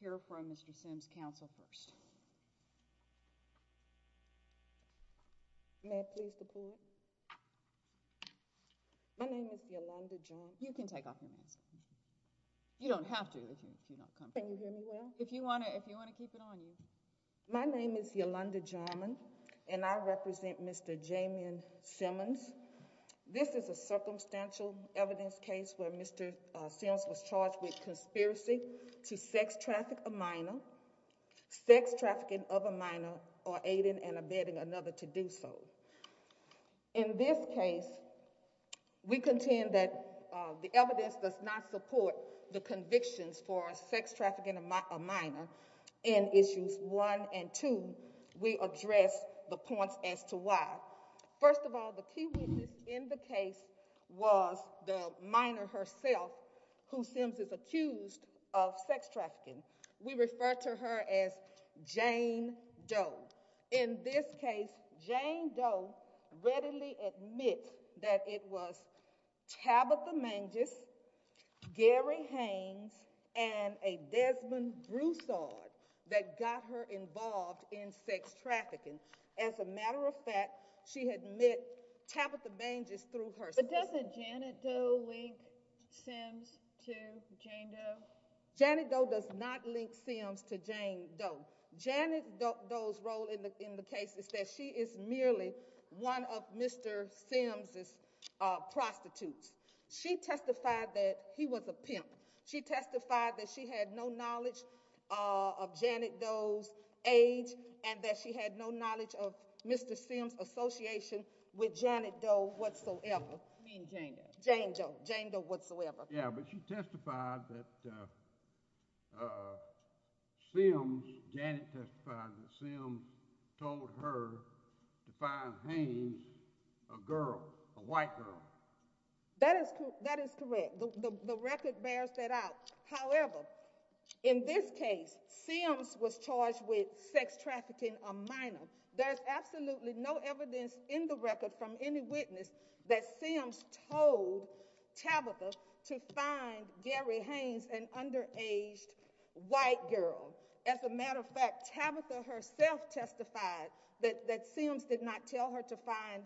here from Mr. Sims Council first. May I please report? My name is Yolanda John. You can take off your mask. You don't have to if you don't come. If you want to, if you want to keep it on you. My name is Yolanda Jarman and I represent Mr. Jamin Simmons. This is a circumstantial evidence case where Mr. Sims was charged with conspiracy to sex traffic, a minor sex trafficking of a minor or aiding and abetting another to do so. In this case, we contend that the evidence does not support the convictions for sex trafficking, a minor in issues one and two. We address the points as to why. First of all, the key witness in the case was the minor herself, who Sims is accused of sex trafficking. We refer to her as Jane Doe. In this case, Jane Doe readily admit that it was Tabitha Manges, Gary Haynes and a Desmond Broussard that got her involved in sex trafficking. As a matter of fact, she had met Tabitha Manges through her. But doesn't Janet Doe link Sims to Jane Doe? Janet Doe does not link Sims to Jane Doe. Janet Doe's role in the case is that she is merely one of Mr. Sims' prostitutes. She testified that he was a pimp. She testified that she had no knowledge of Janet Doe's age and that she had no knowledge of Mr. Sims' association with Janet Doe whatsoever. I mean Jane Doe. Jane Doe. Jane Doe whatsoever. Yeah, but she testified that Sims, Janet testified that Sims told her to find Haynes a girl, a white girl. That is correct. The record bears that out. However, in this case, Sims was evidence in the record from any witness that Sims told Tabitha to find Gary Haynes, an underaged white girl. As a matter of fact, Tabitha herself testified that Sims did not tell her to find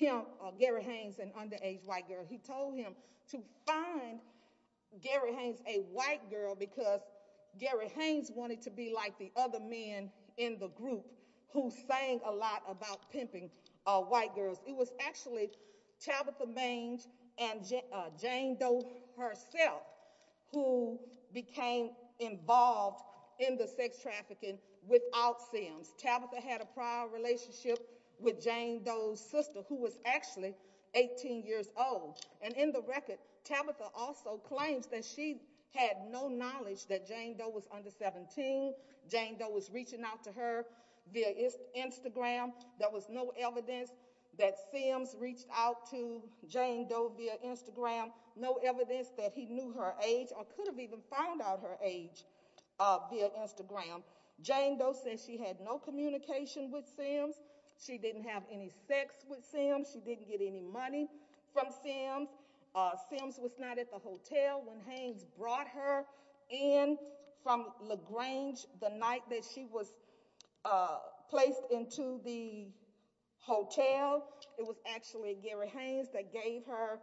him, Gary Haynes, an underage white girl. He told him to find Gary Haynes, a white girl, because Gary Haynes wanted to be like the other men in the record, saying a lot about pimping white girls. It was actually Tabitha Maynes and Jane Doe herself who became involved in the sex trafficking without Sims. Tabitha had a prior relationship with Jane Doe's sister, who was actually 18 years old. And in the record, Tabitha also claims that she had no knowledge that Jane Doe was under 17. Jane Doe was reaching out to her via Instagram. There was no evidence that Sims reached out to Jane Doe via Instagram. No evidence that he knew her age or could have even found out her age via Instagram. Jane Doe said she had no communication with Sims. She didn't have any sex with Sims. She didn't get any money from Sims. Sims was not at the hotel when Haynes brought her in from La Grange the night that she was placed into the hotel. It was actually Gary Haynes that gave her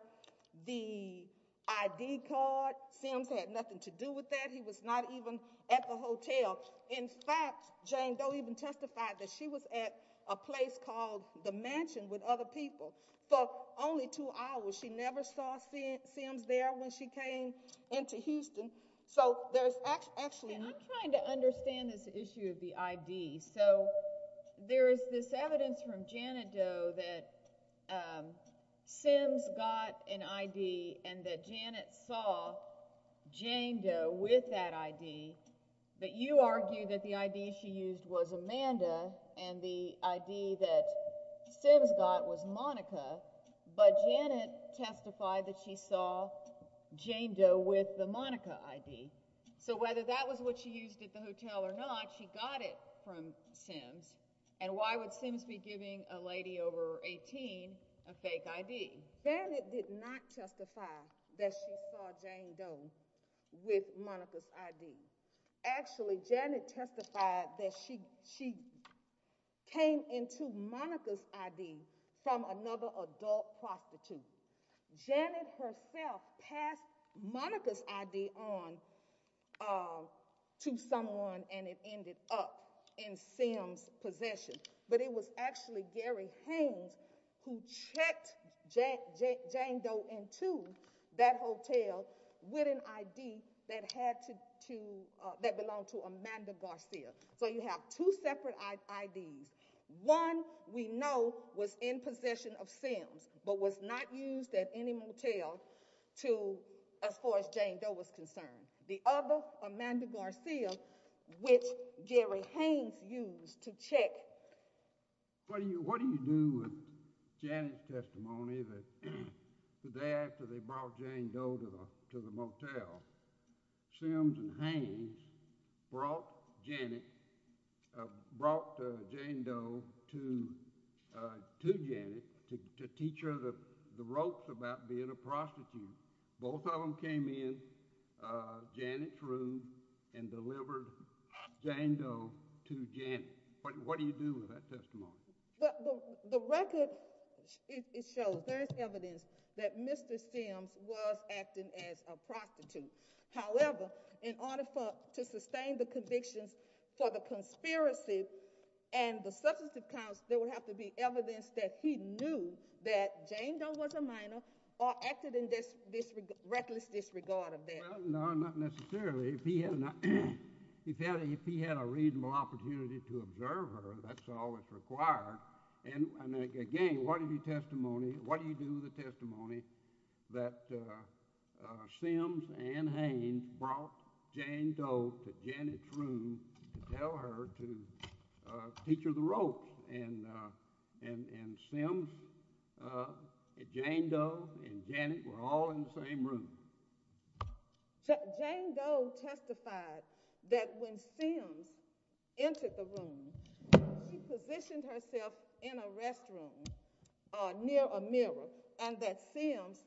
the ID card. Sims had nothing to do with that. He was not even at the hotel. In fact, Jane Doe even testified that she was at a place called The Mansion with other people for only two hours. She never saw Sims there when she came into Houston. So there's actually... I understand this issue of the ID. So there is this evidence from Janet Doe that Sims got an ID and that Janet saw Jane Doe with that ID. But you argue that the ID she used was Amanda and the ID that Sims got was Monica, but Janet testified that she saw Jane Doe with the Monica ID. So whether that was what she used at the hotel or not, she got it from Sims. And why would Sims be giving a lady over 18 a fake ID? Janet did not testify that she saw Jane Doe with Monica's ID. Actually, Janet testified that she came into Monica's ID from another adult prostitute. Janet herself passed Monica's ID on to someone and it ended up in Sims' possession. But it was actually Gary Haynes who checked Jane Doe into that hotel with an ID that had to... that belonged to Amanda Garcia. So you have two separate IDs. One we know was in possession of Sims, but was not used at any motel to... as far as Jane Doe is concerned. The other, Amanda Garcia, which Gary Haynes used to check... What do you do with Janet's testimony that the day after they brought Jane Doe to the motel, Sims and Haynes brought Jane Doe to Janet to teach her the ropes about being a prostitute. Both of them came in Janet's room and delivered Jane Doe to Janet. What do you do with that testimony? The record, it shows, there is evidence that Mr. Sims was acting as a prostitute. However, in order for... to sustain the convictions for the conspiracy and the Jane Doe was a minor or acted in this reckless disregard of that. No, not necessarily. If he had a reasonable opportunity to observe her, that's all that's required. And again, what do you do with the testimony that Sims and Haynes brought Jane Doe to Janet's room to tell her to teach her the ropes? And Sims and Jane Doe and Janet were all in the same room. Jane Doe testified that when Sims entered the room, she positioned herself in a restroom near a mirror and that Sims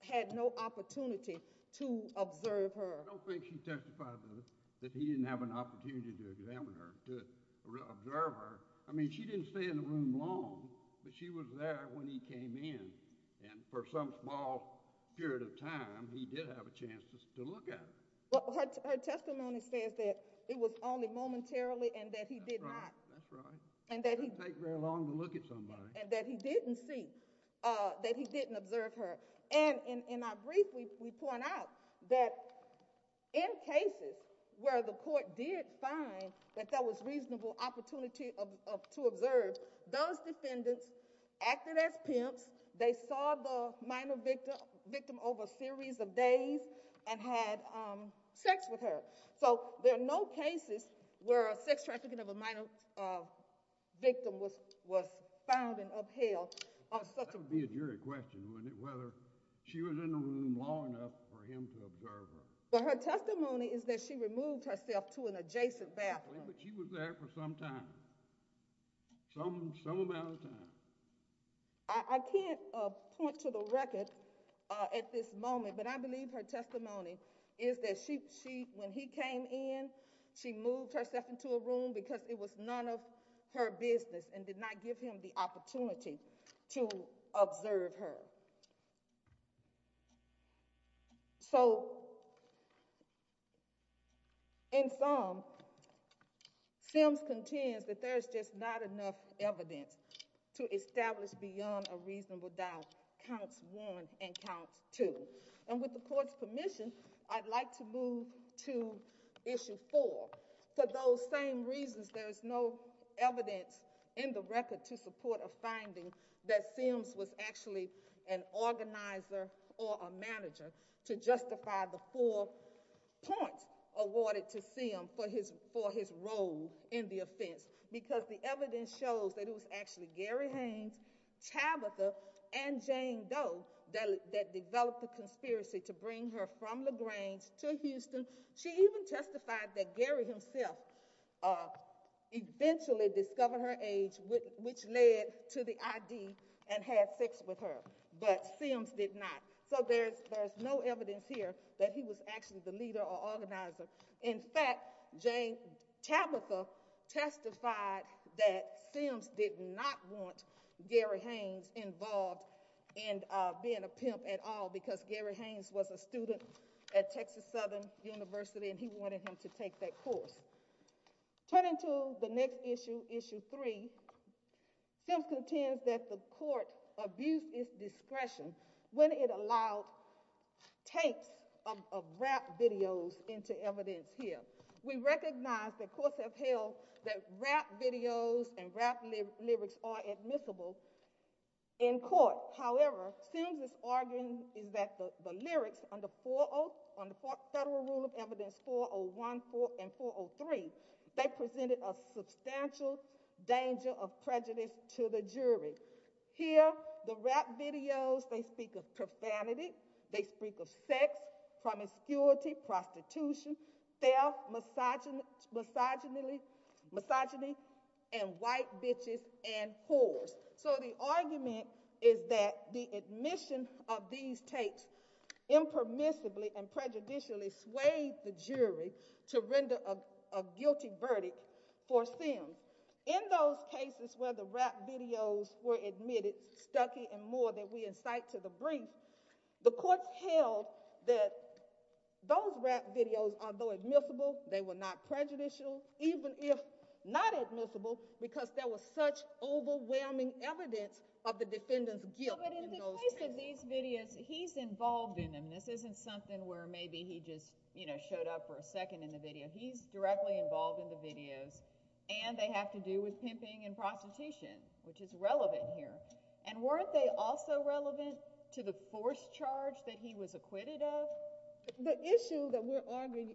had no opportunity to observe her. I don't think she testified that he didn't have an opportunity to examine her, to observe her. I mean, she didn't stay in the room long, but she was there when he came in. And for some small period of time, he did have a chance to look at her. Her testimony says that it was only momentarily and that he did not... That's right. It doesn't take very long to look at somebody. And that he didn't see, that he didn't observe her. And in our brief, we point out that in cases where the court did find that there was reasonable opportunity to observe, those defendants acted as pimps. They saw the minor victim over a series of days and had sex with her. So there are no cases where a sex trafficking of a minor victim was found and upheld. That would be a jury question, wouldn't it? Whether she was in the room long enough for him to observe her. But her testimony is that she removed herself to an adjacent bathroom. But she was there for some time. Some amount of time. I can't point to the record at this moment, but I believe her testimony is that when he came in, she moved herself into a room because it was none of her business and did not give him the opportunity to observe her. So, in sum, Sims contends that there's just not enough evidence to establish beyond a reasonable doubt counts one and counts two. And with the court's permission, I'd like to move to issue four. For those same reasons, there is no evidence in the record to support a finding that Sims was actually an organizer or a manager to justify the four points awarded to Sims for his role in the offense. Because the evidence shows that it was actually Gary Haynes, Tabitha, and Jane Doe that developed the conspiracy to bring her from LaGrange to Houston. She even testified that Gary himself eventually discovered her age, which led to the ID and had sex with her. But Sims did not. So there's no evidence here that he was actually the leader or organizer. In fact, Tabitha testified that Sims did not want Gary Haynes involved in being a pimp at all, because Gary Haynes was a student at Texas Southern University and he wanted him to take that course. Turning to the next issue, issue three, Sims contends that the court abused its discretion when it allowed tapes of rap videos into evidence here. We recognize that courts have held that rap videos and rap lyrics are admissible in court. However, Sims is arguing that the lyrics on the federal rule of evidence 401, 404, and 403, they presented a substantial danger of prejudice to the jury. Here, the rap videos, they speak of profanity, they speak of sex, promiscuity, prostitution, theft, misogyny, and white bitches and whores. So the argument is that the admission of these tapes impermissibly and prejudicially swayed the jury to render a guilty verdict for Sims. In those cases where the rap videos were admitted, Stuckey and Moore, that we incite to the brief, the courts held that those rap videos, although admissible, they were not prejudicial, even if not admissible because there was such overwhelming evidence of the defendant's guilt. But in the case of these videos, he's involved in them. This isn't something where maybe he just, you know, showed up for a second in the video. He's directly involved in the videos, and they have to do with pimping and prostitution, which is relevant here. And weren't they also relevant to the forced charge that he was acquitted of? The issue that we're arguing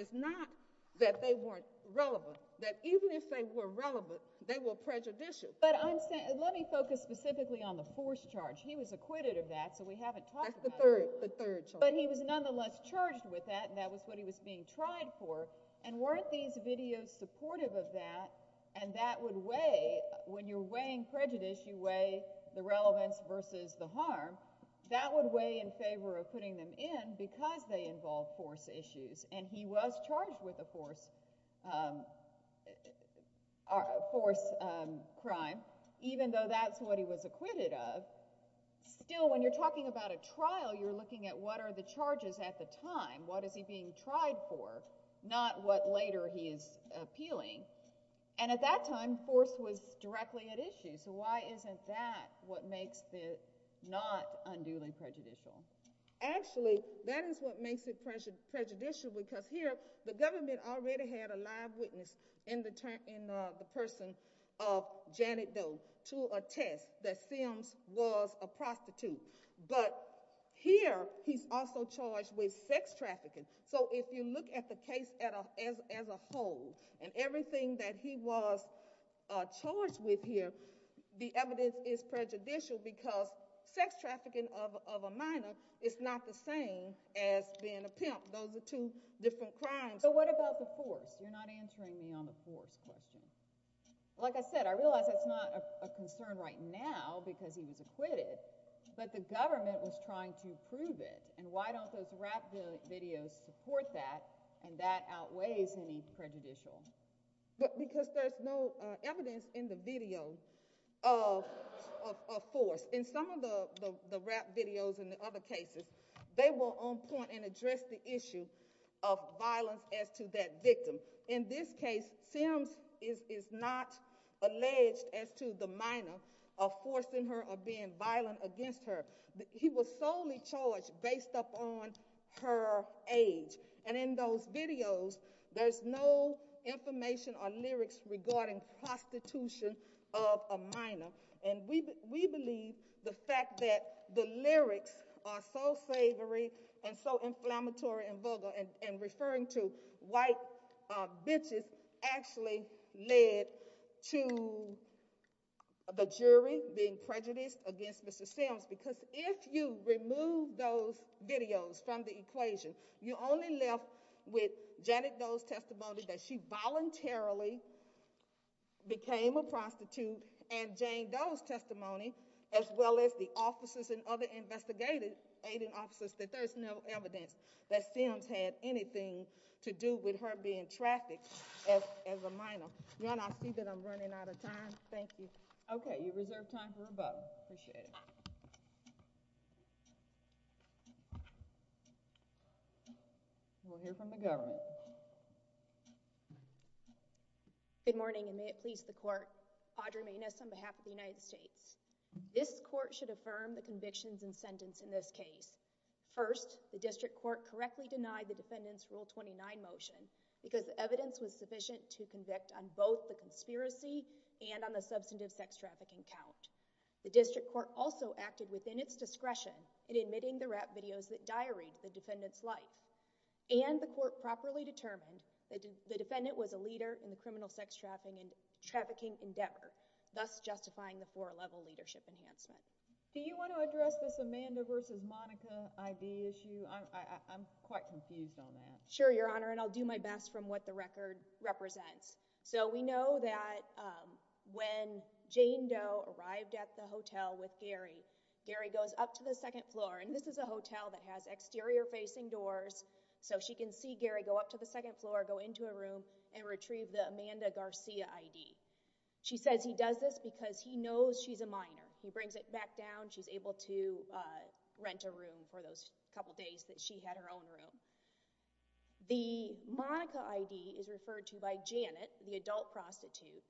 is not that they weren't relevant, that even if they were relevant, they were prejudicial. But let me focus specifically on the forced charge. He was acquitted of that, so we haven't talked about it. That's the third charge. But he was nonetheless charged with that, and that was what he was being tried for. And weren't these videos supportive of that? And that would weigh, when you're weighing prejudice, you weigh the relevance versus the harm. That would weigh in favor of putting them in because they involve force issues. And he was charged with a force crime, even though that's what he was acquitted of. Still, when you're talking about a trial, you're looking at what are the charges at the time, what is he being tried for, not what later he is appealing. And at that time, force was directly at issue. So why isn't that what makes it not unduly prejudicial? Actually, that is what makes it prejudicial because here, the government already had a live witness in the person of Janet Doe to attest that Sims was a prostitute. But here, he's also charged with sex trafficking. So if you look at the case as a whole and everything that he was charged with here, the evidence is prejudicial because sex trafficking of a minor is not the same as being a pimp. Those are two different crimes. So what about the force? You're not answering me on the force question. Like I said, I realize that's not a concern right now because he was acquitted, but the government was trying to prove it. And why don't those rap videos support that and that outweighs any prejudicial? Because there's no evidence in the video of force. In some of the rap videos and the other cases, they were on point and addressed the issue of violence as to that victim. In this case, Sims is not alleged as to the minor of forcing her or being violent against her. He was solely charged based upon her age. And in those videos, there's no information or lyrics regarding prostitution of a minor. And we believe the fact that the lyrics are so savory and so inflammatory and vulgar and referring to white bitches actually led to the jury being prejudiced against Mr. Sims. Because if you remove those videos from the equation, you're only left with Janet Doe's testimony that she voluntarily became a prostitute and Jane Doe's testimony as well as the officers and other investigative aiding officers that there's no evidence that Sims had anything to do with her being trafficked as a minor. Your Honor, I see that I'm running out of time. Thank you. Okay. You reserve time for a vote. Appreciate it. We'll hear from the government. Good morning and may it please the court. Audre Mayness on behalf of the United States. This court should affirm the convictions and sentence in this case. First, the district court correctly denied the defendant's Rule 29 motion because the evidence was sufficient to convict on both the conspiracy and on the substantive sex trafficking count. The district court also acted within its discretion in admitting the rap videos that diaried the defendant's life. And the court properly determined that the defendant was a leader in the criminal sex trafficking endeavor, thus justifying the four-level leadership enhancement. Do you want to address this Amanda versus Monica ID issue? I'm quite confused on that. Sure, Your Honor, and I'll do my best from what the record represents. So we know that when Jane Doe arrived at the hotel with Gary, Gary goes up to the second floor, and this is a hotel that has exterior facing doors, so she can see Gary go up to the second floor, go into a room, and retrieve the Amanda Garcia ID. She says he does this because he knows she's a minor. He brings it back down. She's able to rent a room for those couple days that she had her own room. The Monica ID is referred to by Janet, the adult prostitute.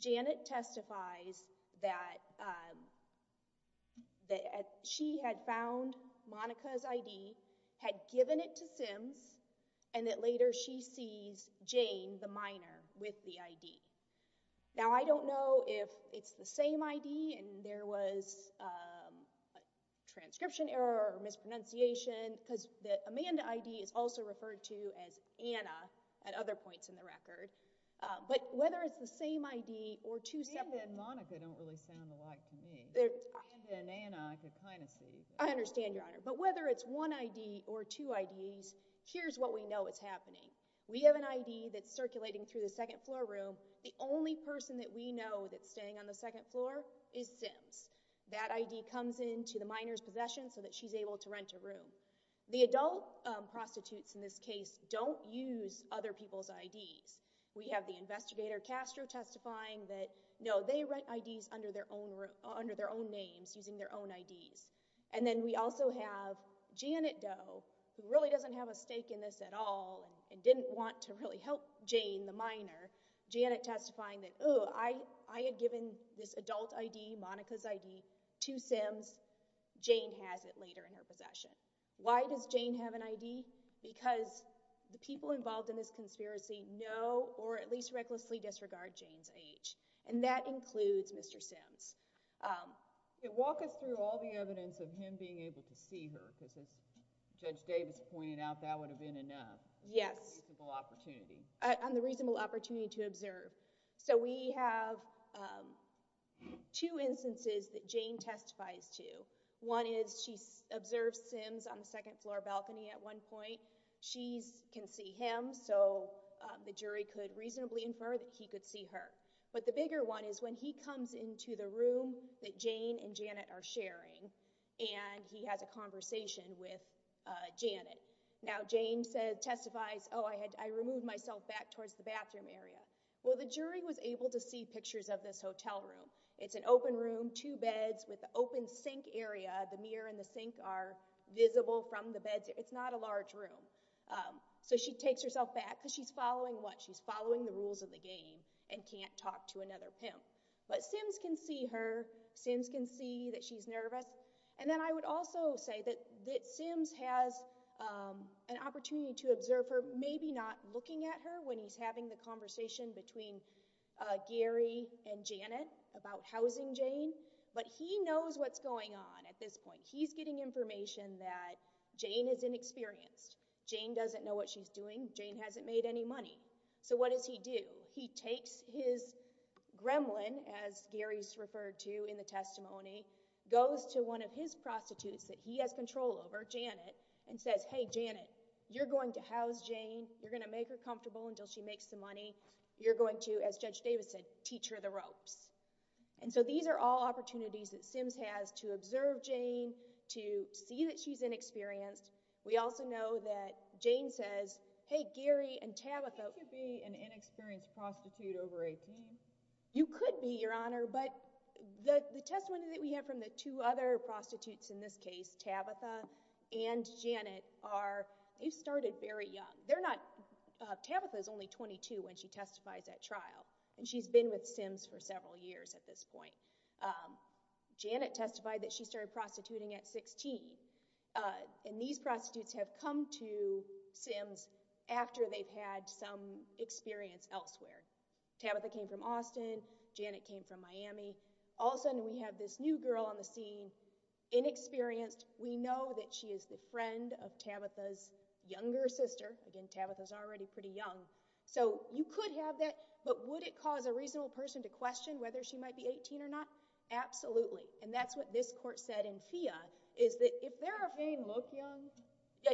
Janet testifies that she had found Monica's ID, had given it to Sims, and that later she sees Jane, the minor, with the ID. Now I don't know if it's the same ID and there was a transcription error or mispronunciation because the Amanda ID is also referred to as Anna at other points in the record. But whether it's the same ID or two separate— Amanda and Monica don't really sound alike to me. Amanda and Anna I could kind of see. I understand, Your Honor. But whether it's one ID or two IDs, here's what we know is happening. We have an ID that's circulating through the second floor room. The only person that we know that's staying on the second floor is Sims. That ID comes into the minor's possession so that she's able to rent a room. The adult prostitutes in this case don't use other people's IDs. We have the investigator Castro testifying that, no, they rent IDs under their own names, using their own IDs. And then we also have Janet Doe, who really doesn't have a stake in this at all and didn't want to really help Jane, the minor. Janet testifying that, oh, I had given this adult ID, Monica's ID, to Sims. Jane has it later in her possession. Why does Jane have an ID? Because the people involved in this conspiracy know or at least recklessly disregard Jane's age, and that includes Mr. Sims. Walk us through all the evidence of him being able to see her because, as Judge Davis pointed out, that would have been enough. Yes. On the reasonable opportunity. On the reasonable opportunity to observe. So we have two instances that Jane testifies to. One is she observes Sims on the second floor balcony at one point. She can see him, so the jury could reasonably infer that he could see her. But the bigger one is when he comes into the room that Jane and Janet are sharing and he has a conversation with Janet. Now, Jane testifies, oh, I removed myself back towards the bathroom area. Well, the jury was able to see pictures of this hotel room. It's an open room, two beds with an open sink area. The mirror and the sink are visible from the beds. It's not a large room. So she takes herself back because she's following what? And can't talk to another pimp. But Sims can see her. Sims can see that she's nervous. And then I would also say that Sims has an opportunity to observe her, maybe not looking at her when he's having the conversation between Gary and Janet about housing Jane, but he knows what's going on at this point. He's getting information that Jane is inexperienced. Jane doesn't know what she's doing. Jane hasn't made any money. So what does he do? He takes his gremlin, as Gary's referred to in the testimony, goes to one of his prostitutes that he has control over, Janet, and says, hey, Janet, you're going to house Jane. You're going to make her comfortable until she makes the money. You're going to, as Judge Davis said, teach her the ropes. And so these are all opportunities that Sims has to observe Jane, to see that she's inexperienced. We also know that Jane says, hey, Gary and Tabitha. You could be an inexperienced prostitute over 18. You could be, Your Honor, but the testimony that we have from the two other prostitutes in this case, Tabitha and Janet, they started very young. Tabitha is only 22 when she testifies at trial, and she's been with Sims for several years at this point. Janet testified that she started prostituting at 16, and these prostitutes have come to Sims after they've had some experience elsewhere. Tabitha came from Austin. Janet came from Miami. All of a sudden we have this new girl on the scene, inexperienced. We know that she is the friend of Tabitha's younger sister. Again, Tabitha's already pretty young. So you could have that, but would it cause a reasonable person to question whether she might be 18 or not? Absolutely. And that's what this court said in FIA, is that if they're 18, look young.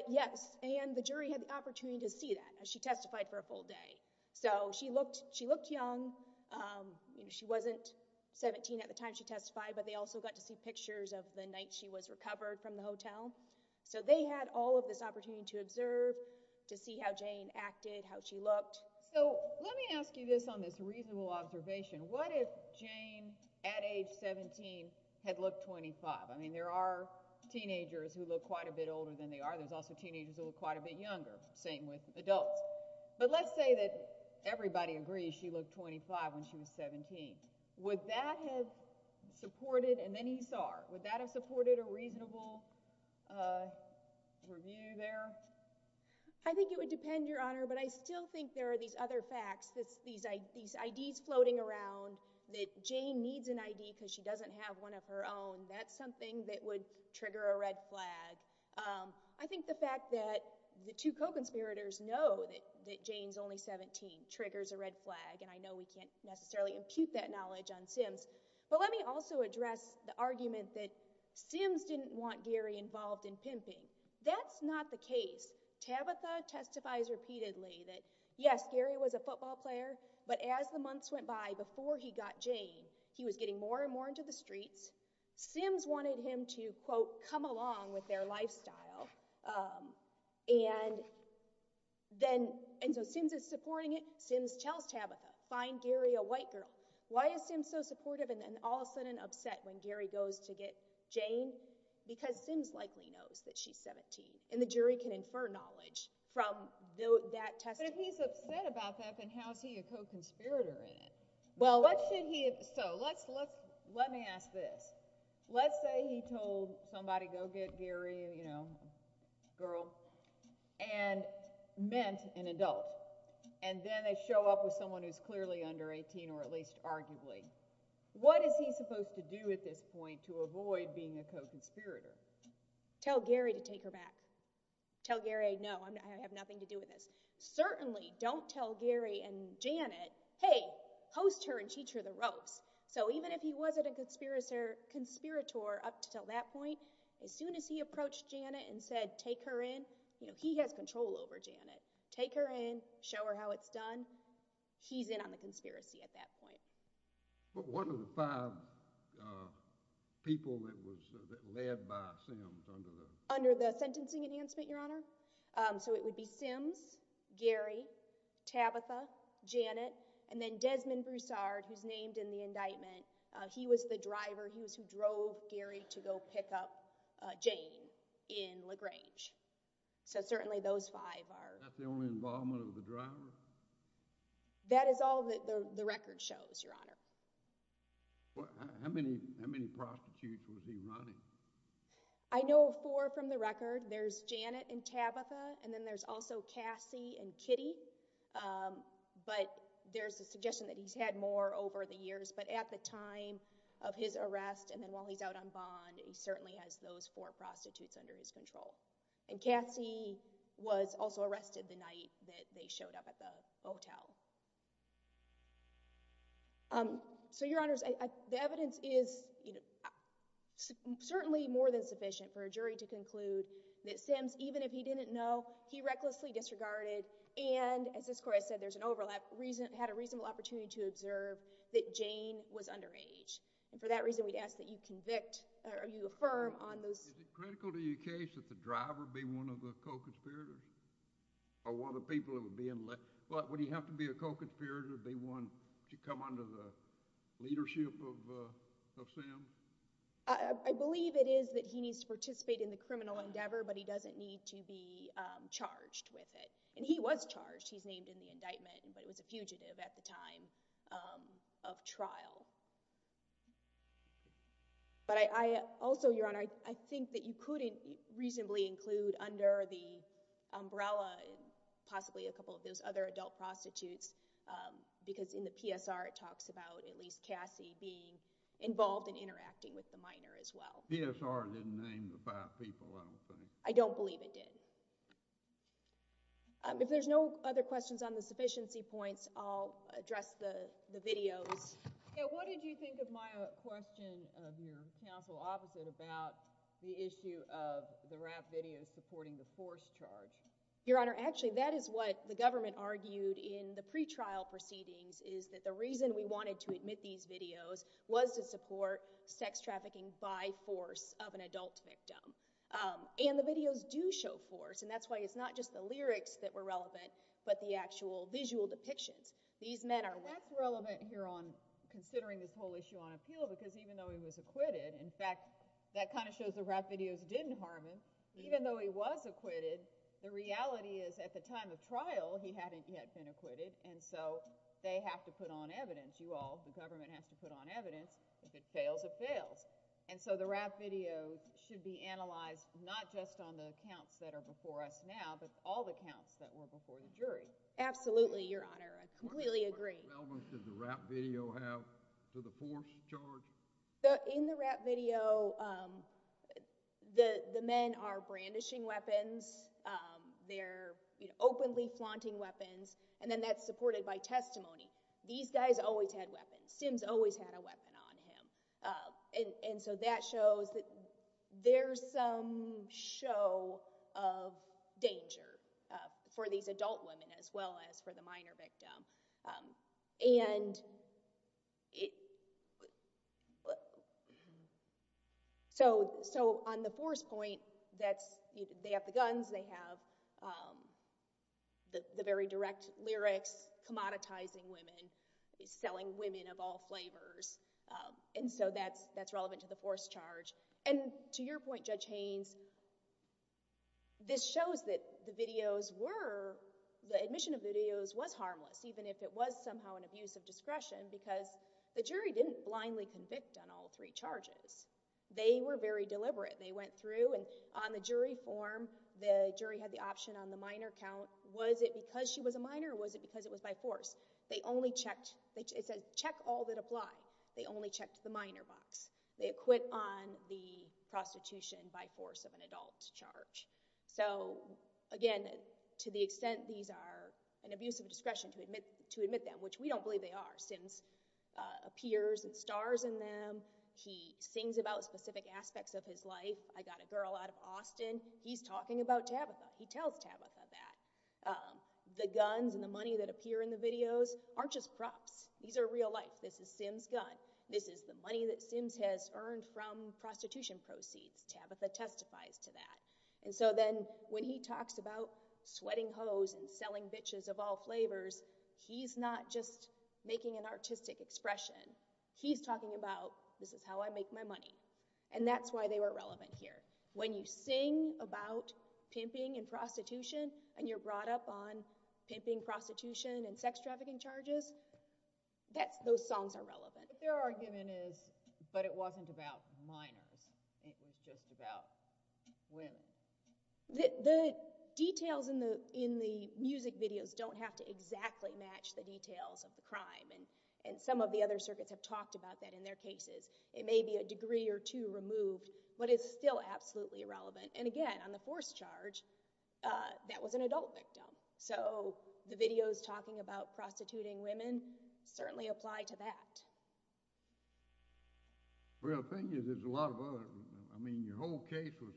Yes, and the jury had the opportunity to see that. She testified for a full day. So she looked young. She wasn't 17 at the time she testified, but they also got to see pictures of the night she was recovered from the hotel. So they had all of this opportunity to observe, to see how Jane acted, how she looked. So let me ask you this on this reasonable observation. What if Jane, at age 17, had looked 25? I mean, there are teenagers who look quite a bit older than they are. There's also teenagers who look quite a bit younger, same with adults. But let's say that everybody agrees she looked 25 when she was 17. Would that have supported—and then he saw her. Would that have supported a reasonable review there? I think it would depend, Your Honor, but I still think there are these other facts, these IDs floating around, that Jane needs an ID because she doesn't have one of her own. That's something that would trigger a red flag. I think the fact that the two co-conspirators know that Jane's only 17 triggers a red flag, and I know we can't necessarily impute that knowledge on Sims. But let me also address the argument that Sims didn't want Gary involved in pimping. That's not the case. Tabitha testifies repeatedly that, yes, Gary was a football player, but as the months went by, before he got Jane, he was getting more and more into the streets. Sims wanted him to, quote, come along with their lifestyle. And so Sims is supporting it. Sims tells Tabitha, find Gary a white girl. Why is Sims so supportive and then all of a sudden upset when Gary goes to get Jane? Because Sims likely knows that she's 17, and the jury can infer knowledge from that testimony. But if he's upset about that, then how is he a co-conspirator in it? So let me ask this. Let's say he told somebody, go get Gary, you know, girl, and meant an adult, and then they show up with someone who's clearly under 18, or at least arguably. What is he supposed to do at this point to avoid being a co-conspirator? Tell Gary to take her back. Tell Gary, no, I have nothing to do with this. Certainly don't tell Gary and Janet, hey, host her and teach her the ropes. So even if he wasn't a conspirator up until that point, as soon as he approached Janet and said, take her in, you know, he has control over Janet, take her in, show her how it's done, he's in on the conspiracy at that point. But what are the five people that was led by Sims under the? Under the sentencing enhancement, Your Honor. So it would be Sims, Gary, Tabitha, Janet, and then Desmond Broussard, who's named in the indictment. He was the driver, he was who drove Gary to go pick up Jane in LaGrange. So certainly those five are. Is that the only involvement of the driver? That is all that the record shows, Your Honor. How many prostitutes was he running? I know four from the record. There's Janet and Tabitha, and then there's also Cassie and Kitty, but there's a suggestion that he's had more over the years. But at the time of his arrest and then while he's out on bond, he certainly has those four prostitutes under his control. And Cassie was also arrested the night that they showed up at the hotel. So, Your Honors, the evidence is certainly more than sufficient for a jury to conclude that Sims, even if he didn't know, he recklessly disregarded. And as this court has said, there's an overlap, had a reasonable opportunity to observe that Jane was underage. And for that reason, we'd ask that you affirm on those— Is it critical to your case that the driver be one of the co-conspirators? Or one of the people that would be in—would he have to be a co-conspirator to be one to come under the leadership of Sims? I believe it is that he needs to participate in the criminal endeavor, but he doesn't need to be charged with it. And he was charged. He's named in the indictment, but it was a fugitive at the time of trial. But I also, Your Honor, I think that you couldn't reasonably include under the umbrella possibly a couple of those other adult prostitutes, because in the PSR it talks about at least Cassie being involved in interacting with the minor as well. PSR didn't name the five people, I don't think. I don't believe it did. If there's no other questions on the sufficiency points, I'll address the videos. What did you think of my question of your counsel opposite about the issue of the rap videos supporting the forced charge? Your Honor, actually, that is what the government argued in the pretrial proceedings, is that the reason we wanted to admit these videos was to support sex trafficking by force of an adult victim. And the videos do show force, and that's why it's not just the lyrics that were relevant, but the actual visual depictions. That's relevant here on considering this whole issue on appeal, because even though he was acquitted, in fact, that kind of shows the rap videos didn't harm him. Even though he was acquitted, the reality is at the time of trial he hadn't yet been acquitted, and so they have to put on evidence, you all, the government has to put on evidence. If it fails, it fails. And so the rap video should be analyzed not just on the counts that are before us now, but all the counts that were before the jury. Absolutely, Your Honor. I completely agree. How much relevance does the rap video have to the forced charge? In the rap video, the men are brandishing weapons. They're openly flaunting weapons, and then that's supported by testimony. These guys always had weapons. Sims always had a weapon on him. And so that shows that there's some show of danger for these adult women as well as for the minor victim. So on the force point, they have the guns, they have the very direct lyrics, commoditizing women, selling women of all flavors. And so that's relevant to the forced charge. And to your point, Judge Haynes, this shows that the videos were— the admission of videos was harmless, even if it was somehow an abuse of discretion, because the jury didn't blindly convict on all three charges. They were very deliberate. They went through, and on the jury form, the jury had the option on the minor count. Was it because she was a minor, or was it because it was by force? They only checked—it says, check all that apply. They only checked the minor box. They acquit on the prostitution by force of an adult charge. So again, to the extent these are an abuse of discretion to admit them, which we don't believe they are, Sims appears and stars in them. He sings about specific aspects of his life. I got a girl out of Austin. He's talking about Tabitha. He tells Tabitha that. The guns and the money that appear in the videos aren't just props. These are real life. This is Sims' gun. This is the money that Sims has earned from prostitution proceeds. Tabitha testifies to that. And so then when he talks about sweating hoes and selling bitches of all flavors, he's not just making an artistic expression. He's talking about, this is how I make my money. And that's why they were relevant here. When you sing about pimping and prostitution, and you're brought up on pimping, prostitution, and sex trafficking charges, those songs are relevant. But their argument is, but it wasn't about minors. It was just about women. The details in the music videos don't have to exactly match the details of the crime. And some of the other circuits have talked about that in their cases. It may be a degree or two removed, but it's still absolutely relevant. And again, on the forced charge, that was an adult victim. So the videos talking about prostituting women certainly apply to that. Well, the thing is, there's a lot of other. I mean, your whole case was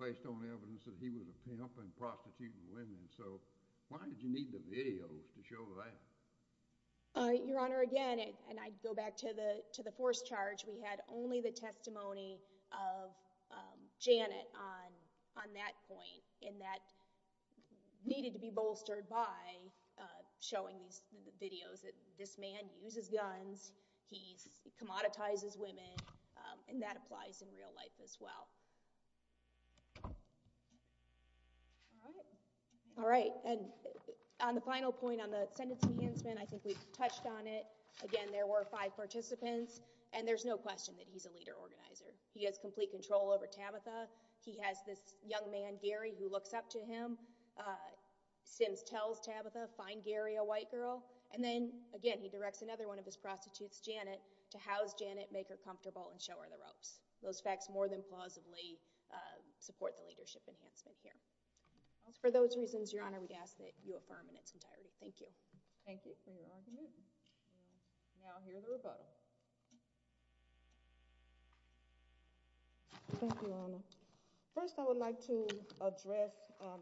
based on evidence that he was a pimp and prostituting women. So why did you need the videos to show that? Your Honor, again, and I go back to the forced charge, we had only the testimony of Janet on that point. And that needed to be bolstered by showing these videos. This man uses guns. He commoditizes women. And that applies in real life as well. All right. And on the final point, on the sentence enhancement, I think we've touched on it. Again, there were five participants. And there's no question that he's a leader organizer. He has complete control over Tabitha. He has this young man, Gary, who looks up to him. Sims tells Tabitha, find Gary a white girl. And then, again, he directs another one of his prostitutes, Janet, to house Janet, make her comfortable, and show her the ropes. Those facts more than plausibly support the leadership enhancement here. For those reasons, Your Honor, we'd ask that you affirm in its entirety. Thank you. Thank you for your argument. Now I'll hear the rebuttal. Thank you, Your Honor. First, I would like to address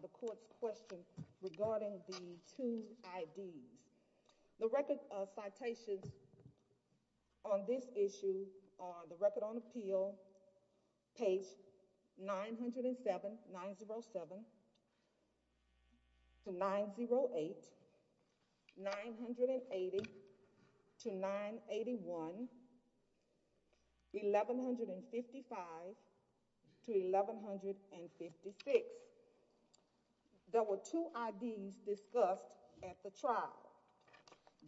the court's question regarding the two IDs. The record of citations on this issue, on the record on appeal, page 907-908, 980-981, 1155-1156. There were two IDs discussed at the trial.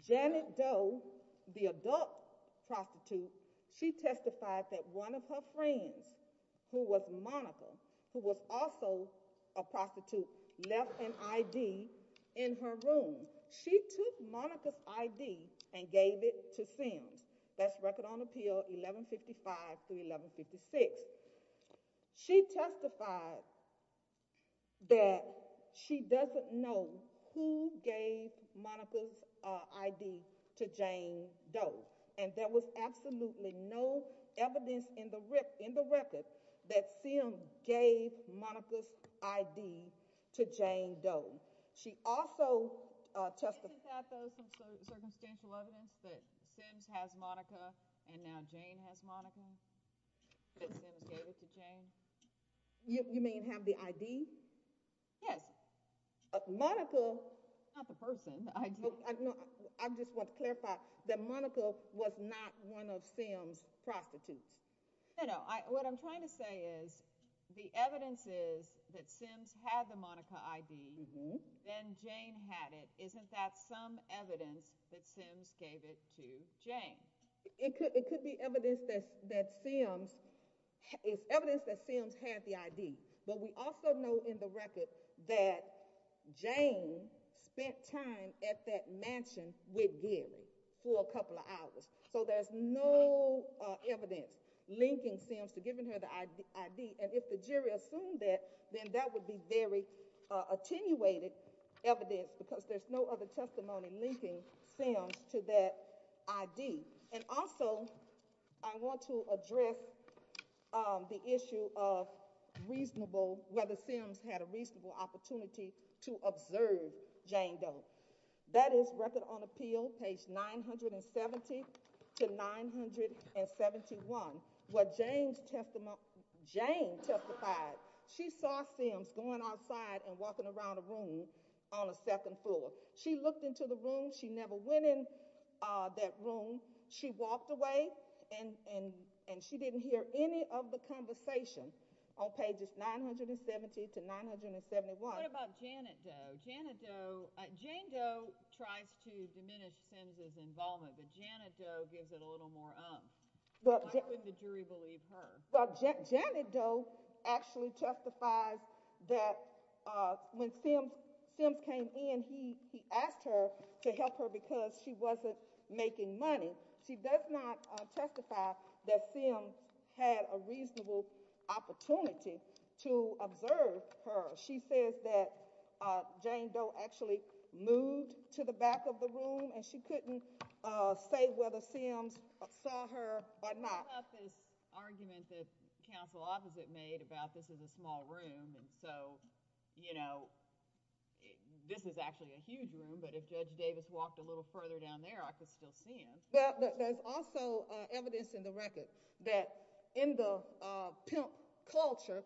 Janet Doe, the adult prostitute, she testified that one of her friends, who was Monica, who was also a prostitute, left an ID in her room. She took Monica's ID and gave it to Sims. That's record on appeal, 1155-1156. She testified that she doesn't know who gave Monica's ID to Jane Doe, and there was absolutely no evidence in the record that Sims gave Monica's ID to Jane Doe. She also testified— You mean have the ID? Yes. Monica— Not the person. I just want to clarify that Monica was not one of Sims' prostitutes. No, no. What I'm trying to say is the evidence is that Sims had the Monica ID, then Jane had it. Isn't that some evidence that Sims gave it to Jane? It could be evidence that Sims had the ID, but we also know in the record that Jane spent time at that mansion with Gary for a couple of hours, so there's no evidence linking Sims to giving her the ID, and if the jury assumed that, then that would be very attenuated evidence because there's no other testimony linking Sims to that ID. And also, I want to address the issue of reasonable— whether Sims had a reasonable opportunity to observe Jane Doe. That is record on appeal, page 970-971. What Jane testified, she saw Sims going outside and walking around a room on the second floor. She looked into the room. She never went in that room. She walked away, and she didn't hear any of the conversation on pages 970-971. What about Janet Doe? Jane Doe tries to diminish Sims' involvement, but Janet Doe gives it a little more umph. Why wouldn't the jury believe her? Well, Janet Doe actually testified that when Sims came in, he asked her to help her because she wasn't making money. She does not testify that Sims had a reasonable opportunity to observe her. She says that Jane Doe actually moved to the back of the room, and she couldn't say whether Sims saw her or not. What about this argument that counsel opposite made about this is a small room, and so, you know, this is actually a huge room, but if Judge Davis walked a little further down there, I could still see him. Well, there's also evidence in the record that in the pimp culture,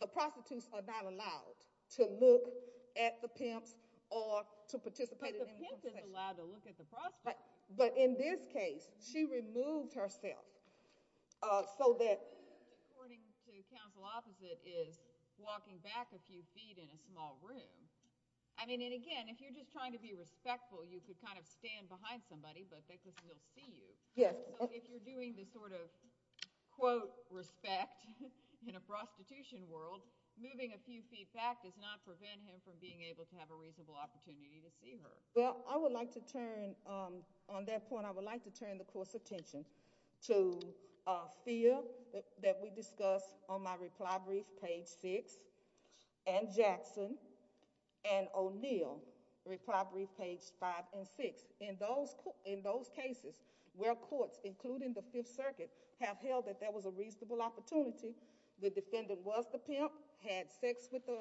the prostitutes are not allowed to look at the pimps or to participate in any conversation. They're not allowed to look at the prostitute. But in this case, she removed herself so that— According to counsel opposite is walking back a few feet in a small room. I mean, and again, if you're just trying to be respectful, you could kind of stand behind somebody, but they could still see you. Yes. So if you're doing this sort of, quote, respect in a prostitution world, moving a few feet back does not prevent him from being able to have a reasonable opportunity to see her. Well, I would like to turn on that point. I would like to turn the court's attention to fear that we discussed on my reply brief, page six, and Jackson and O'Neill, reply brief, page five and six. In those cases where courts, including the Fifth Circuit, have held that there was a reasonable opportunity, the defendant was the pimp, had sex with the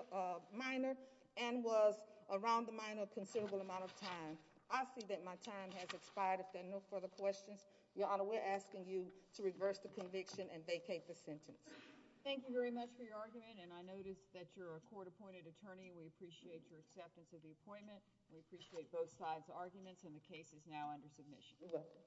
minor, and was around the minor a considerable amount of time. I see that my time has expired. If there are no further questions, Your Honor, we're asking you to reverse the conviction and vacate the sentence. Thank you very much for your argument, and I notice that you're a court-appointed attorney. We appreciate your acceptance of the appointment. We appreciate both sides' arguments, and the case is now under submission. You're welcome.